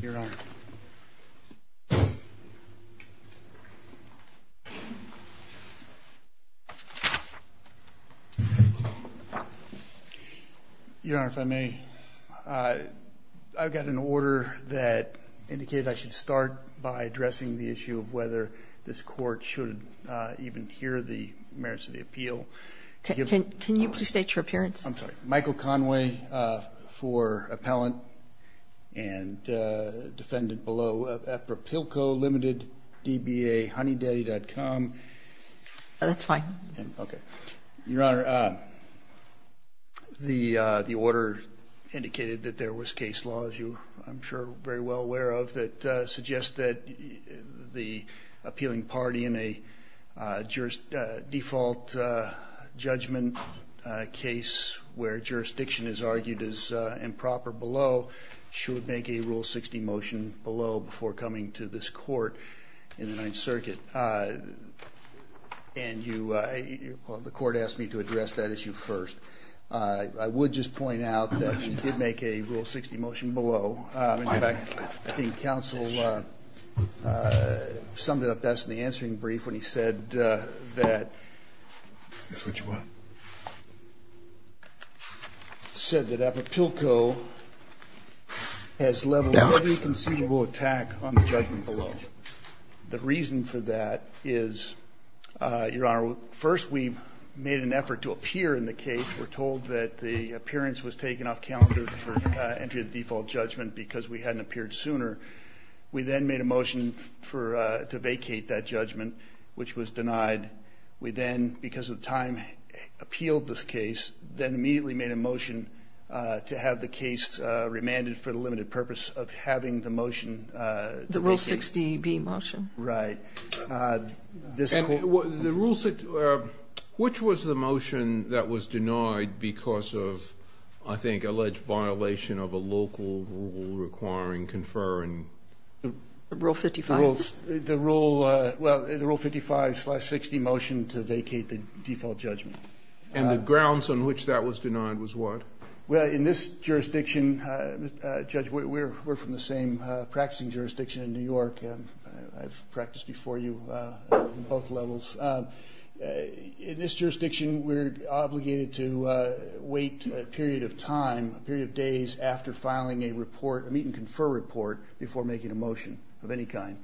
Your Honor, if I may, I've got an order that indicated I should start by addressing the issue of whether this Court should even hear the merits of the appeal. Can you please state your appearance? I'm sorry, Michael Conway for appellant and defendant below, Apiriliaco Ltd., DBA, honeydaddy.com. That's fine. Okay. Your Honor, the order indicated that there was case law, as you, I'm sure, are very well familiar with. The case where jurisdiction is argued as improper below should make a Rule 60 motion below before coming to this Court in the Ninth Circuit. And you, the Court asked me to address that issue first. I would just point out that we did make a Rule 60 motion below. In fact, I think counsel summed it up best in the answering brief when he said that. He said that Apiriliaco has leveled every conceivable attack on the judgment below. The reason for that is, Your Honor, first we made an effort to appear in the case. We're told that the appearance was taken off calendar for entry of the default judgment because we hadn't appeared sooner. We then made a motion to vacate that judgment, which was denied. We then, because of time, appealed this case, then immediately made a motion to have the case remanded for the limited purpose of having the motion vacated. The Rule 60B motion. Right. And the Rule 60, which was the motion that was denied because of, I think, alleged violation of a local rule requiring conferring? Rule 55. The Rule 55-60 motion to vacate the default judgment. And the grounds on which that was denied was what? Well, in this jurisdiction, Judge, we're from the same practicing jurisdiction in New York. I've practiced before you on both levels. In this jurisdiction, we're obligated to wait a period of time, a period of days, after filing a report, a meet-and-confer report, before making a motion of any kind.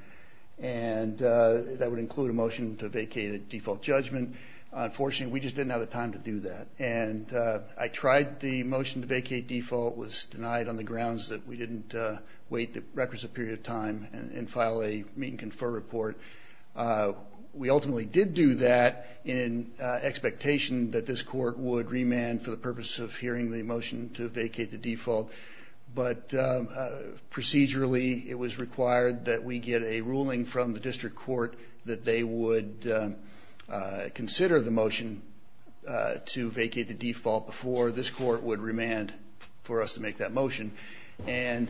And that would include a motion to vacate a default judgment. Unfortunately, we just didn't have the time to do that. And I tried the motion to vacate default, was denied on the grounds that we didn't wait the requisite period of time and file a meet-and-confer report. We ultimately did do that in expectation that this court would remand for the purpose of hearing the motion to vacate the default. But procedurally, it was required that we get a ruling from the district court that they would consider the motion to vacate the default before this court would remand for us to make that motion. And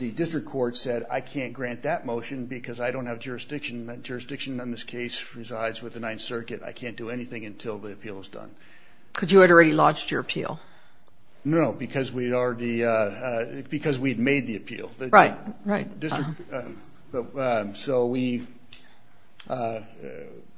the district court said, I can't grant that motion because I don't have jurisdiction. Jurisdiction in this case resides with the Ninth Circuit. I can't do anything until the appeal is done. Because you had already launched your appeal. No, because we'd already, because we'd made the appeal. Right, right. So we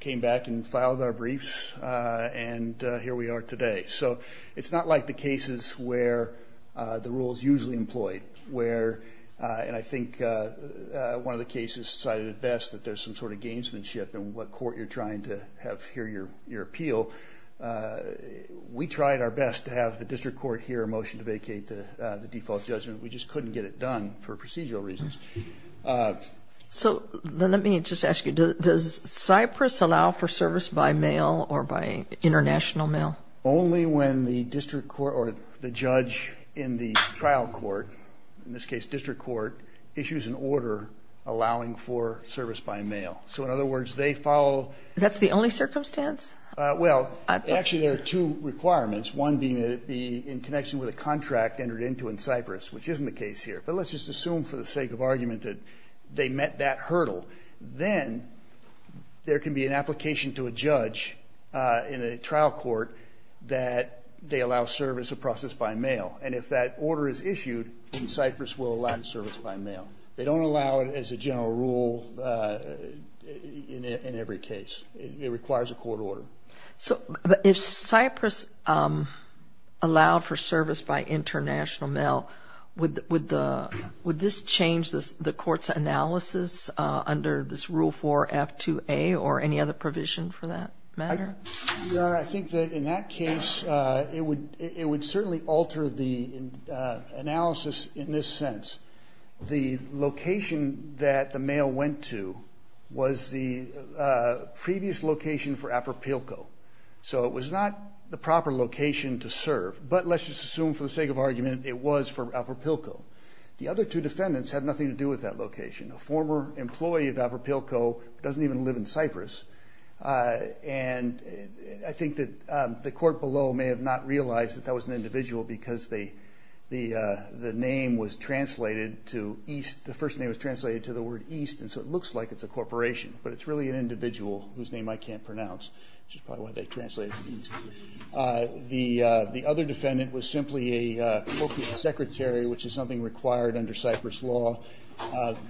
came back and filed our briefs, and here we are today. So it's not like the cases where the rule is usually employed, where, and I think one of the cases cited at best that there's some sort of gamesmanship in what court you're We tried our best to have the district court hear a motion to vacate the default judgment. We just couldn't get it done for procedural reasons. So let me just ask you, does Cypress allow for service by mail or by international mail? Only when the district court or the judge in the trial court, in this case district court, issues an order allowing for service by mail. So in other words, they follow. That's the only circumstance? Well, actually there are two requirements, one being that it be in connection with a contract entered into in Cypress, which isn't the case here. But let's just assume for the sake of argument that they met that hurdle. Then there can be an application to a judge in a trial court that they allow service or process by mail. And if that order is issued, then Cypress will allow service by mail. They don't allow it as a general rule in every case. It requires a court order. So if Cypress allowed for service by international mail, would this change the court's analysis under this Rule 4 F2A or any other provision for that matter? Your Honor, I think that in that case, it would certainly alter the analysis in this sense. The location that the mail went to was the previous location for Apropilco. So it was not the proper location to serve. But let's just assume for the sake of argument, it was for Apropilco. The other two defendants had nothing to do with that location. A former employee of Apropilco doesn't even live in Cypress. And I think that the court below may have not realized that that was an individual because the first name was translated to the word east. And so it looks like it's a corporation. But it's really an individual whose name I can't pronounce, which is probably why they translated it east. The other defendant was simply a corporate secretary, which is something required under Cypress law.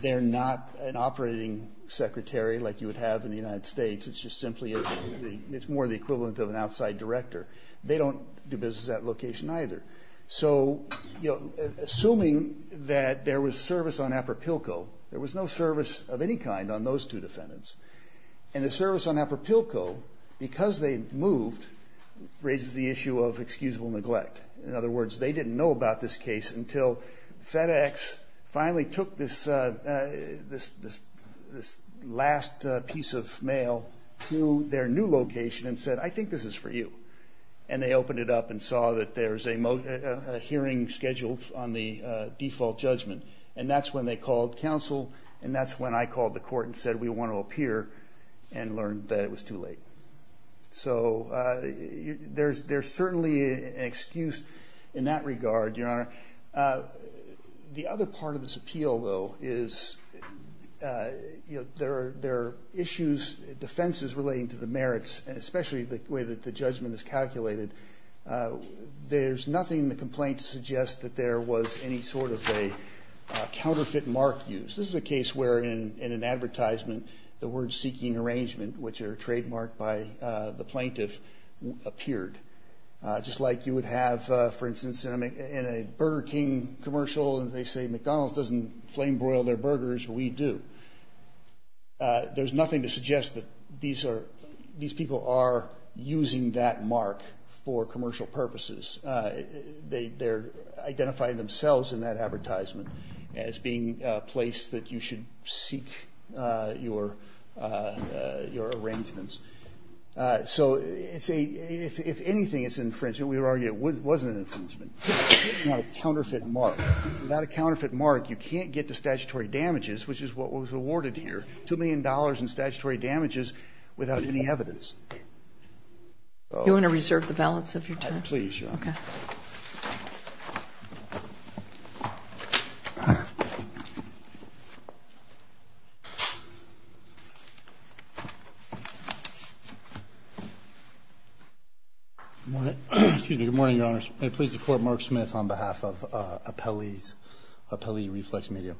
They're not an operating secretary like you would have in the United States. It's just simply more the equivalent of an outside director. They don't do business at location either. So assuming that there was service on Apropilco, there was no service of any kind on those two defendants. And the service on Apropilco, because they moved, raises the issue of excusable neglect. In other words, they didn't know about this case until FedEx finally took this last piece of mail to their new location and said, I think this is for you. And they opened it up and saw that there's a hearing scheduled on the default judgment. And that's when they called counsel. And that's when I called the court and said, we want to appear, and learned that it was too late. So there's certainly an excuse in that regard, Your Honor. The other part of this appeal, though, is there are issues, defenses relating to the merits, and especially the way that the judgment is calculated. There's nothing in the complaint to suggest that there was any sort of a counterfeit mark used. This is a case where, in an advertisement, the word seeking arrangement, which are trademarked by the plaintiff, appeared. Just like you would have, for instance, in a Burger King commercial, and they say McDonald's doesn't flame broil their burgers, we do. There's nothing to suggest that these people are using that mark for commercial purposes. They're identifying themselves in that advertisement as being a place that you should seek your arrangements. So it's a, if anything it's infringement, we would argue it wasn't an infringement. Not a counterfeit mark. Without a counterfeit mark, you can't get to statutory damages, which is what was awarded here, $2 million in statutory damages without any evidence. You want to reserve the balance of your time? Please, Your Honor. Okay. Good morning, Your Honors. May it please the Court, Mark Smith on behalf of Appellee Reflex Media.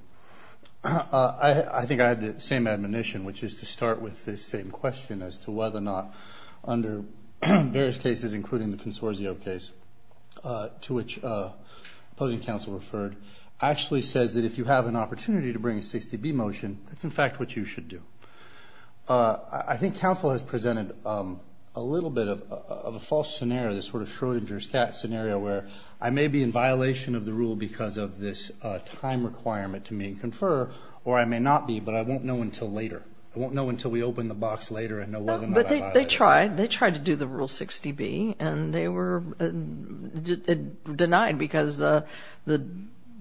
I think I had the same admonition, which is to start with this same question as to whether or not under various cases, including the Consorzio case, to which opposing counsel referred, actually says that if you have an opportunity to bring a 60B motion, that's in fact what you should do. I think counsel has presented a little bit of a false scenario, this sort of Schrodinger's cat scenario, where I may be in violation of the rule because of this time requirement to me, and confer, or I may not be, but I won't know until later. I won't know until we open the box later and know whether or not I violated it. They tried. They tried to do the Rule 60B, and they were denied because the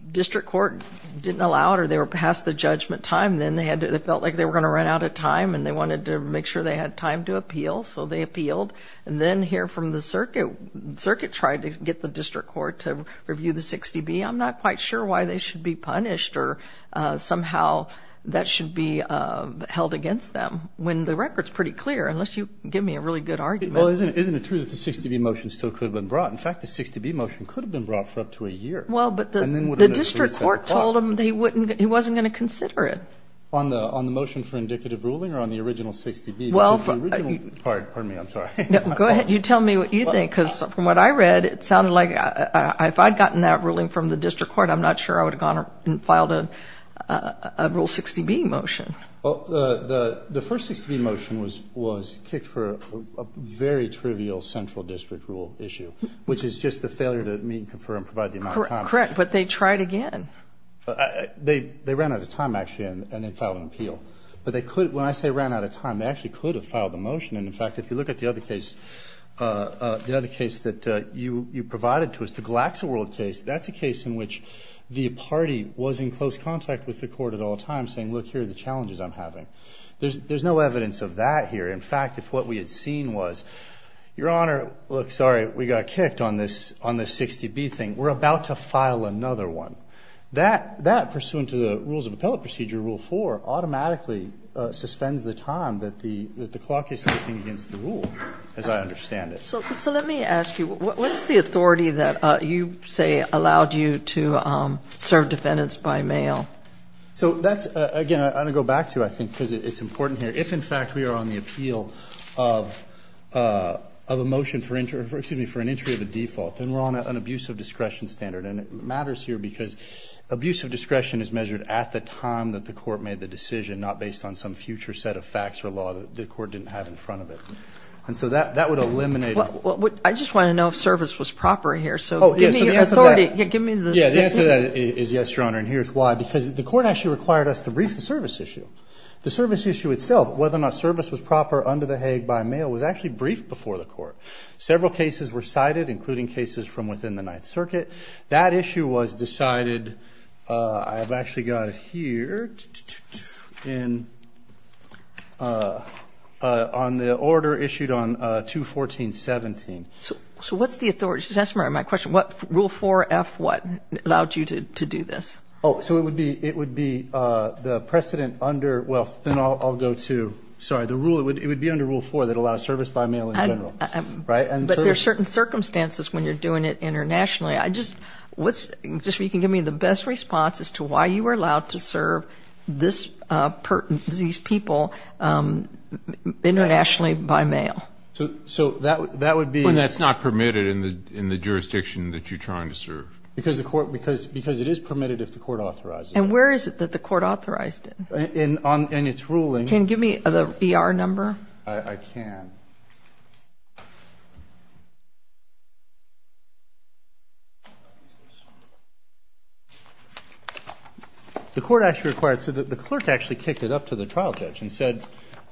district court didn't allow it, or they were past the judgment time. Then they felt like they were going to run out of time, and they wanted to make sure they had time to appeal, so they appealed. Then here from the circuit, the circuit tried to get the district court to review the 60B. I'm not quite sure why they should be punished, or somehow that should be held against them, when the record is pretty clear, unless you give me a really good argument. Well, isn't it true that the 60B motion still could have been brought? In fact, the 60B motion could have been brought for up to a year. Well, but the district court told them he wasn't going to consider it. On the motion for indicative ruling, or on the original 60B? Well, if you... Pardon me. I'm sorry. No, go ahead. You tell me what you think, because from what I read, it sounded like if I'd gotten that ruling from the district court, I'm not sure I would have gone and filed a Rule 60B motion. Well, the first 60B motion was kicked for a very trivial central district rule issue, which is just the failure to meet, confer, and provide the amount of time. Correct, but they tried again. They ran out of time, actually, and then filed an appeal. But when I say ran out of time, they actually could have filed a motion. And in fact, if you look at the other case that you provided to us, the GlaxoWorld case, that's a case in which the party was in close contact with the court at all times, saying, look, here are the challenges I'm having. There's no evidence of that here. In fact, if what we had seen was, Your Honor, look, sorry, we got kicked on this 60B thing. We're about to file another one. That, pursuant to the Rules of Appellate Procedure, Rule 4, automatically suspends the time that the clock is ticking against the rule, as I understand it. So let me ask you, what's the authority that you say allowed you to serve defendants by mail? So that's, again, I'm going to go back to you, I think, because it's important here. If, in fact, we are on the appeal of a motion for an entry of a default, then we're on an abuse of discretion standard. And it matters here because abuse of discretion is measured at the time that the court made the decision, not based on some future set of facts or law that the court didn't have in front of it. And so that would eliminate. I just want to know if service was proper here. So give me the authority, give me the. Yeah, the answer to that is yes, Your Honor, and here's why. Because the court actually required us to brief the service issue. The service issue itself, whether or not service was proper under the Hague by mail, was actually briefed before the court. Several cases were cited, including cases from within the Ninth Circuit. That issue was decided, I have actually got it here, on the order issued on 2-14-17. So what's the authority? Just ask me my question. What rule 4-F what allowed you to do this? Oh, so it would be the precedent under, well, then I'll go to, sorry, the rule, it would be under rule 4 that allows service by mail in general. But there's certain circumstances when you're doing it internationally. I just, what's, just so you can give me the best response as to why you were allowed to serve these people internationally by mail. So that would be. When that's not permitted in the jurisdiction that you're trying to serve. Because it is permitted if the court authorized it. And where is it that the court authorized it? In its ruling. Can you give me the ER number? I can. The court actually required, so the clerk actually kicked it up to the trial judge and said,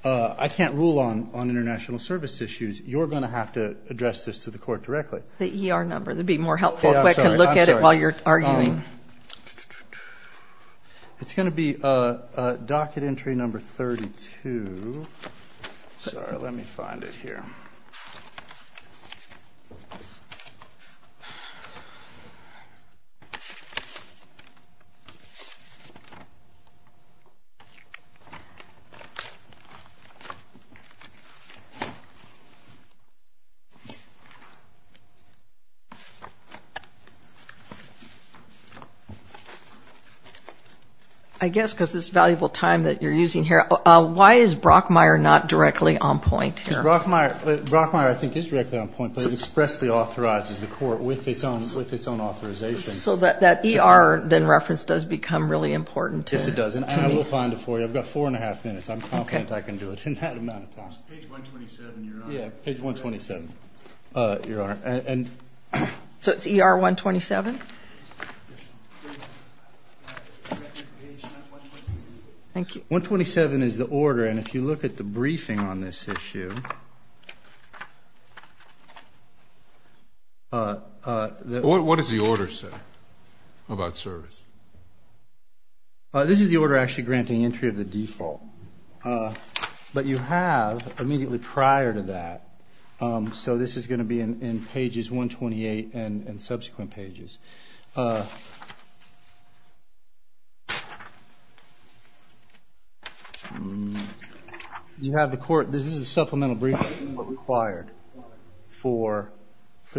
I can't rule on international service issues. You're going to have to address this to the court directly. The ER number. That would be more helpful if I could look at it while you're arguing. It's going to be docket entry number 32. Sorry, let me find it here. I guess because this valuable time that you're using here. Why is Brockmeyer not directly on point here? Brockmeyer, I think, is directly on point. But it expressly authorizes the court with its own authorization. So that ER, then, reference does become really important to me. Yes, it does. And I will find it for you. I've got four and a half minutes. I'm confident I can do it in that amount of time. Page 127, Your Honor. Yeah, page 127, Your Honor. So it's ER 127? Thank you. 127 is the order. And if you look at the briefing on this issue, the order. What does the order say about service? This is the order actually granting entry of the default. But you have immediately prior to that. So this is going to be in pages 128 and subsequent pages. You have the court. This is a supplemental briefing required for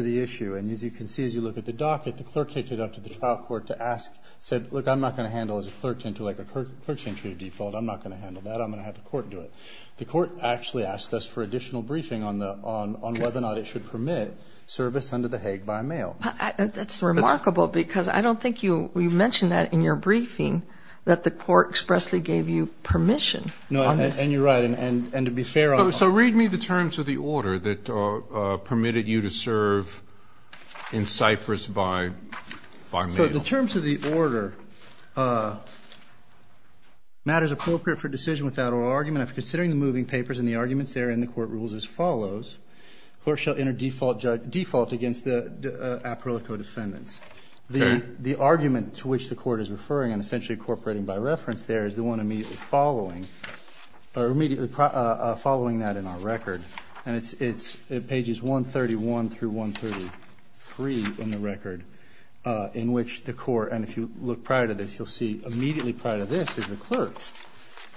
the issue. And as you can see, as you look at the docket, the clerk kicked it up to the trial court to ask, said, look, I'm not going to handle as a clerk to enter, like, a clerk's entry of default. I'm not going to handle that. I'm going to have the court do it. The court actually asked us for additional briefing on whether or not it should permit service under the Hague by mail. That's remarkable. Because I don't think you mentioned that in your briefing, that the court expressly gave you permission. No, and you're right. And to be fair on that. So read me the terms of the order that permitted you to serve in Cyprus by mail. So the terms of the order, matters appropriate for decision without oral argument. If considering the moving papers and the arguments therein, the court rules as follows. Clerk shall enter default against the aporilico defendants. The argument to which the court is referring and essentially incorporating by reference there is the one immediately following that in our record. And it's pages 131 through 133 in the record, in which the court, and if you look prior to this, you'll see immediately prior to this is the clerk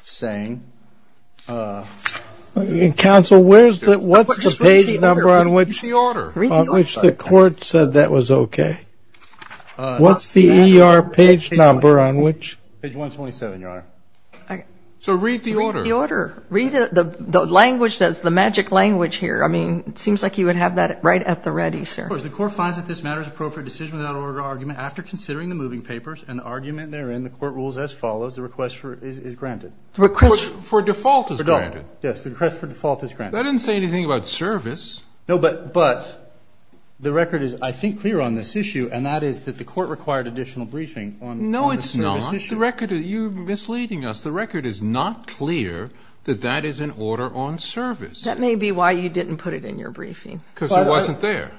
saying, counsel, what's the page number on which the court said that was OK? What's the ER page number on which? Page 127, Your Honor. So read the order. Read the language that's the magic language here. I mean, it seems like you would have that right at the ready, sir. The court finds that this matters appropriate decision without oral argument after considering the moving papers and the argument therein, the court rules as follows. The request for it is granted. The request for default is granted. Yes, the request for default is granted. That didn't say anything about service. No, but the record is, I think, clear on this issue, and that is that the court required additional briefing on the service issue. No, it's not. The record, you're misleading us. The record is not clear that that is an order on service. That may be why you didn't put it in your briefing. Because it wasn't there.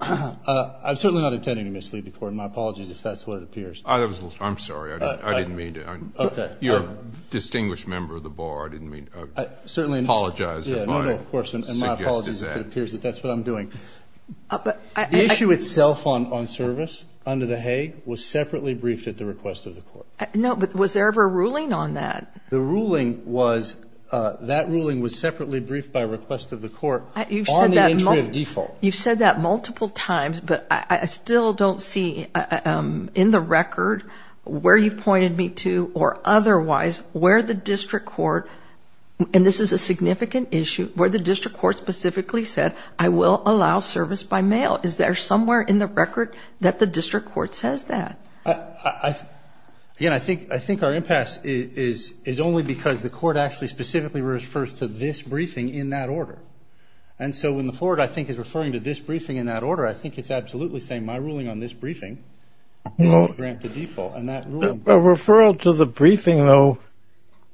I'm certainly not intending to mislead the court. My apologies, if that's what it appears. I'm sorry. I didn't mean to. OK. You're a distinguished member of the bar. I didn't mean to apologize. No, no, of course. And my apologies if it appears that that's what I'm doing. The issue itself on service under the Hague was separately briefed at the request of the court. No, but was there ever a ruling on that? The ruling was, that ruling was separately briefed by request of the court on the entry of default. You've said that multiple times, but I still don't see in the record where you've pointed me to, or otherwise, where the district court, and this is a significant issue, where the district court specifically said, I will allow service by mail. Is there somewhere in the record that the district court says that? Again, I think our impasse is only because the court actually specifically refers to this briefing in that order. And so when the floor, I think, is referring to this briefing in that order, I think it's absolutely saying, my ruling on this briefing is to grant the default. A referral to the briefing, though,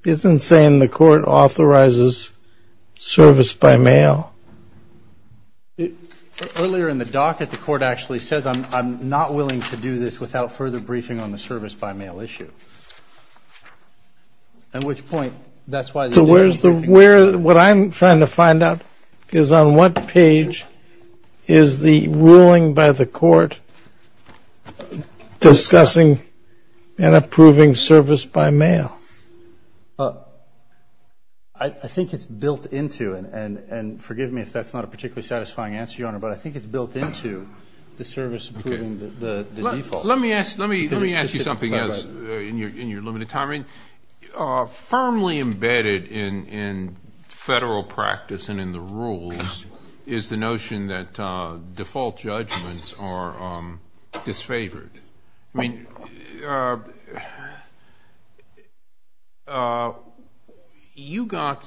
isn't saying the court authorizes service by mail. Earlier in the docket, the court actually says, I'm not willing to do this without further briefing on the service by mail issue. At which point, that's why the individual briefing is there. What I'm trying to find out is, on what page is the ruling by the court discussing and approving service by mail? I think it's built into, and forgive me if that's not a particularly satisfying answer, Your Honor, but I think it's built into the service approving the default. Let me ask you something else in your limited time. Firmly embedded in federal practice and in the rules is the notion that default judgments are disfavored. I mean, you got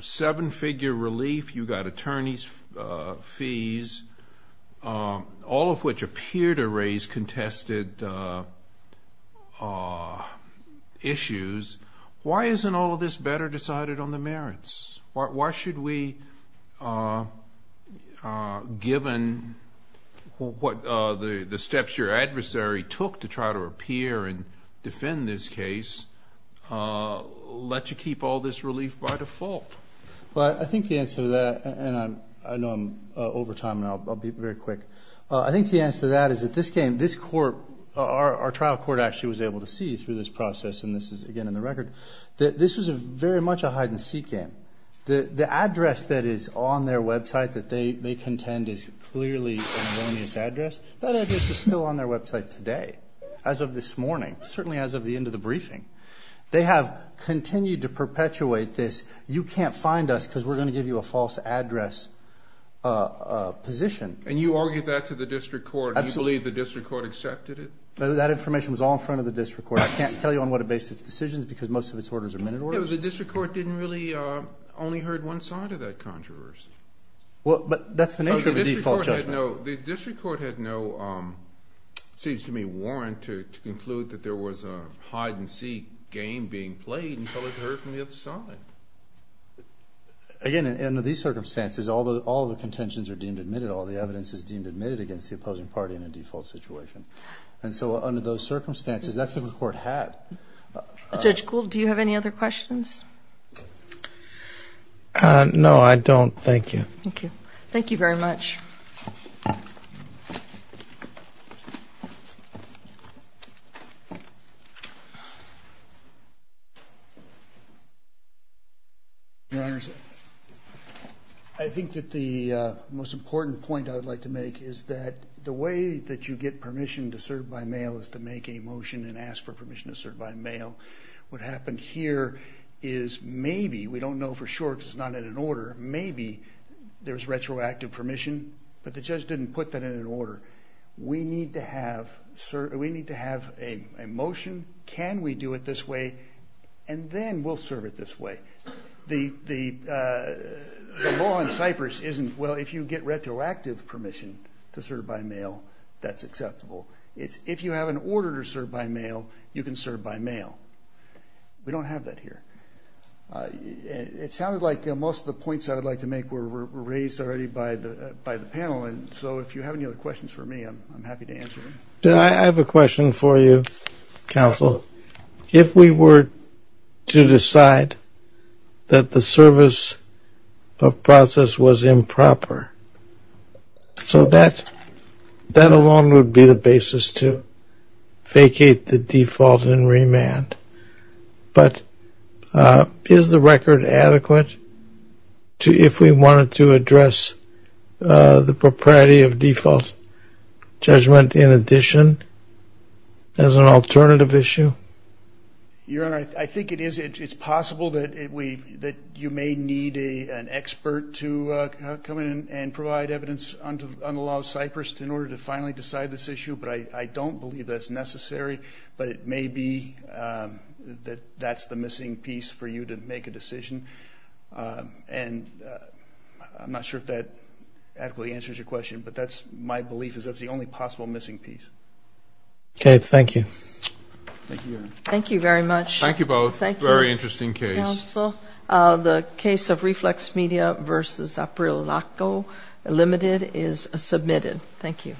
seven-figure relief. You got attorney's fees, all of which appear to raise contested issues. Why isn't all of this better decided on the merits? Why should we, given what the steps your adversary took to try to appear and defend this case, let you keep all this relief by default? Well, I think the answer to that, and I know I'm over time, and I'll be very quick, I think the answer to that is that this court, our trial court actually was able to see through this process, and this is, again, in the record, that this is very much a hide-and-seek game. The address that is on their website that they contend is clearly an erroneous address. That address is still on their website today, as of this morning, certainly as of the end of the briefing. They have continued to perpetuate this, you can't find us because we're going to give you a false address position. And you argue that to the district court. Absolutely. Do you believe the district court accepted it? That information was all in front of the district court. I can't tell you on what it based its decisions, because most of its orders are minute orders. The district court didn't really only heard one side of that controversy. Well, but that's the nature of a default judgment. The district court had no, it seems to me, warrant to conclude that there was a hide-and-seek game being played until it heard from the other side. Again, under these circumstances, although all the contentions are deemed admitted, all the evidence is deemed admitted against the opposing party in a default situation. And so under those circumstances, that's what the court had. Judge Gould, do you have any other questions? No, I don't. Thank you. Thank you. Thank you very much. I think that the most important point I'd like to make is that the way that you get permission to serve by mail is to make a motion and ask for permission to serve by mail. What happened here is maybe, we don't know for sure because it's not in an order, maybe there's retroactive permission, but the judge didn't put that in an order. We need to have a motion. Can we do it this way? And then we'll serve it this way. The law in Cyprus isn't, well, if you get retroactive permission to serve by mail, that's acceptable. If you have an order to serve by mail, you can serve by mail. We don't have that here. It sounded like most of the points I would like to make were raised already by the panel. And so if you have any other questions for me, I'm happy to answer them. I have a question for you, counsel. If we were to decide that the service of process was improper, so that alone would be the basis to vacate the default and remand. But is the record adequate if we wanted to address the propriety of default judgment in addition as an alternative issue? Your Honor, I think it is. It's possible that you may need an expert to come in and provide evidence on the law of Cyprus in order to finally decide this issue. But I don't believe that's necessary. But it may be that that's the missing piece for you to make a decision. And I'm not sure if that adequately answers your question. But that's my belief, is that's the only possible missing piece. OK, thank you. Thank you very much. Thank you both. Very interesting case. The case of Reflex Media versus April Laco Limited is submitted. Thank you.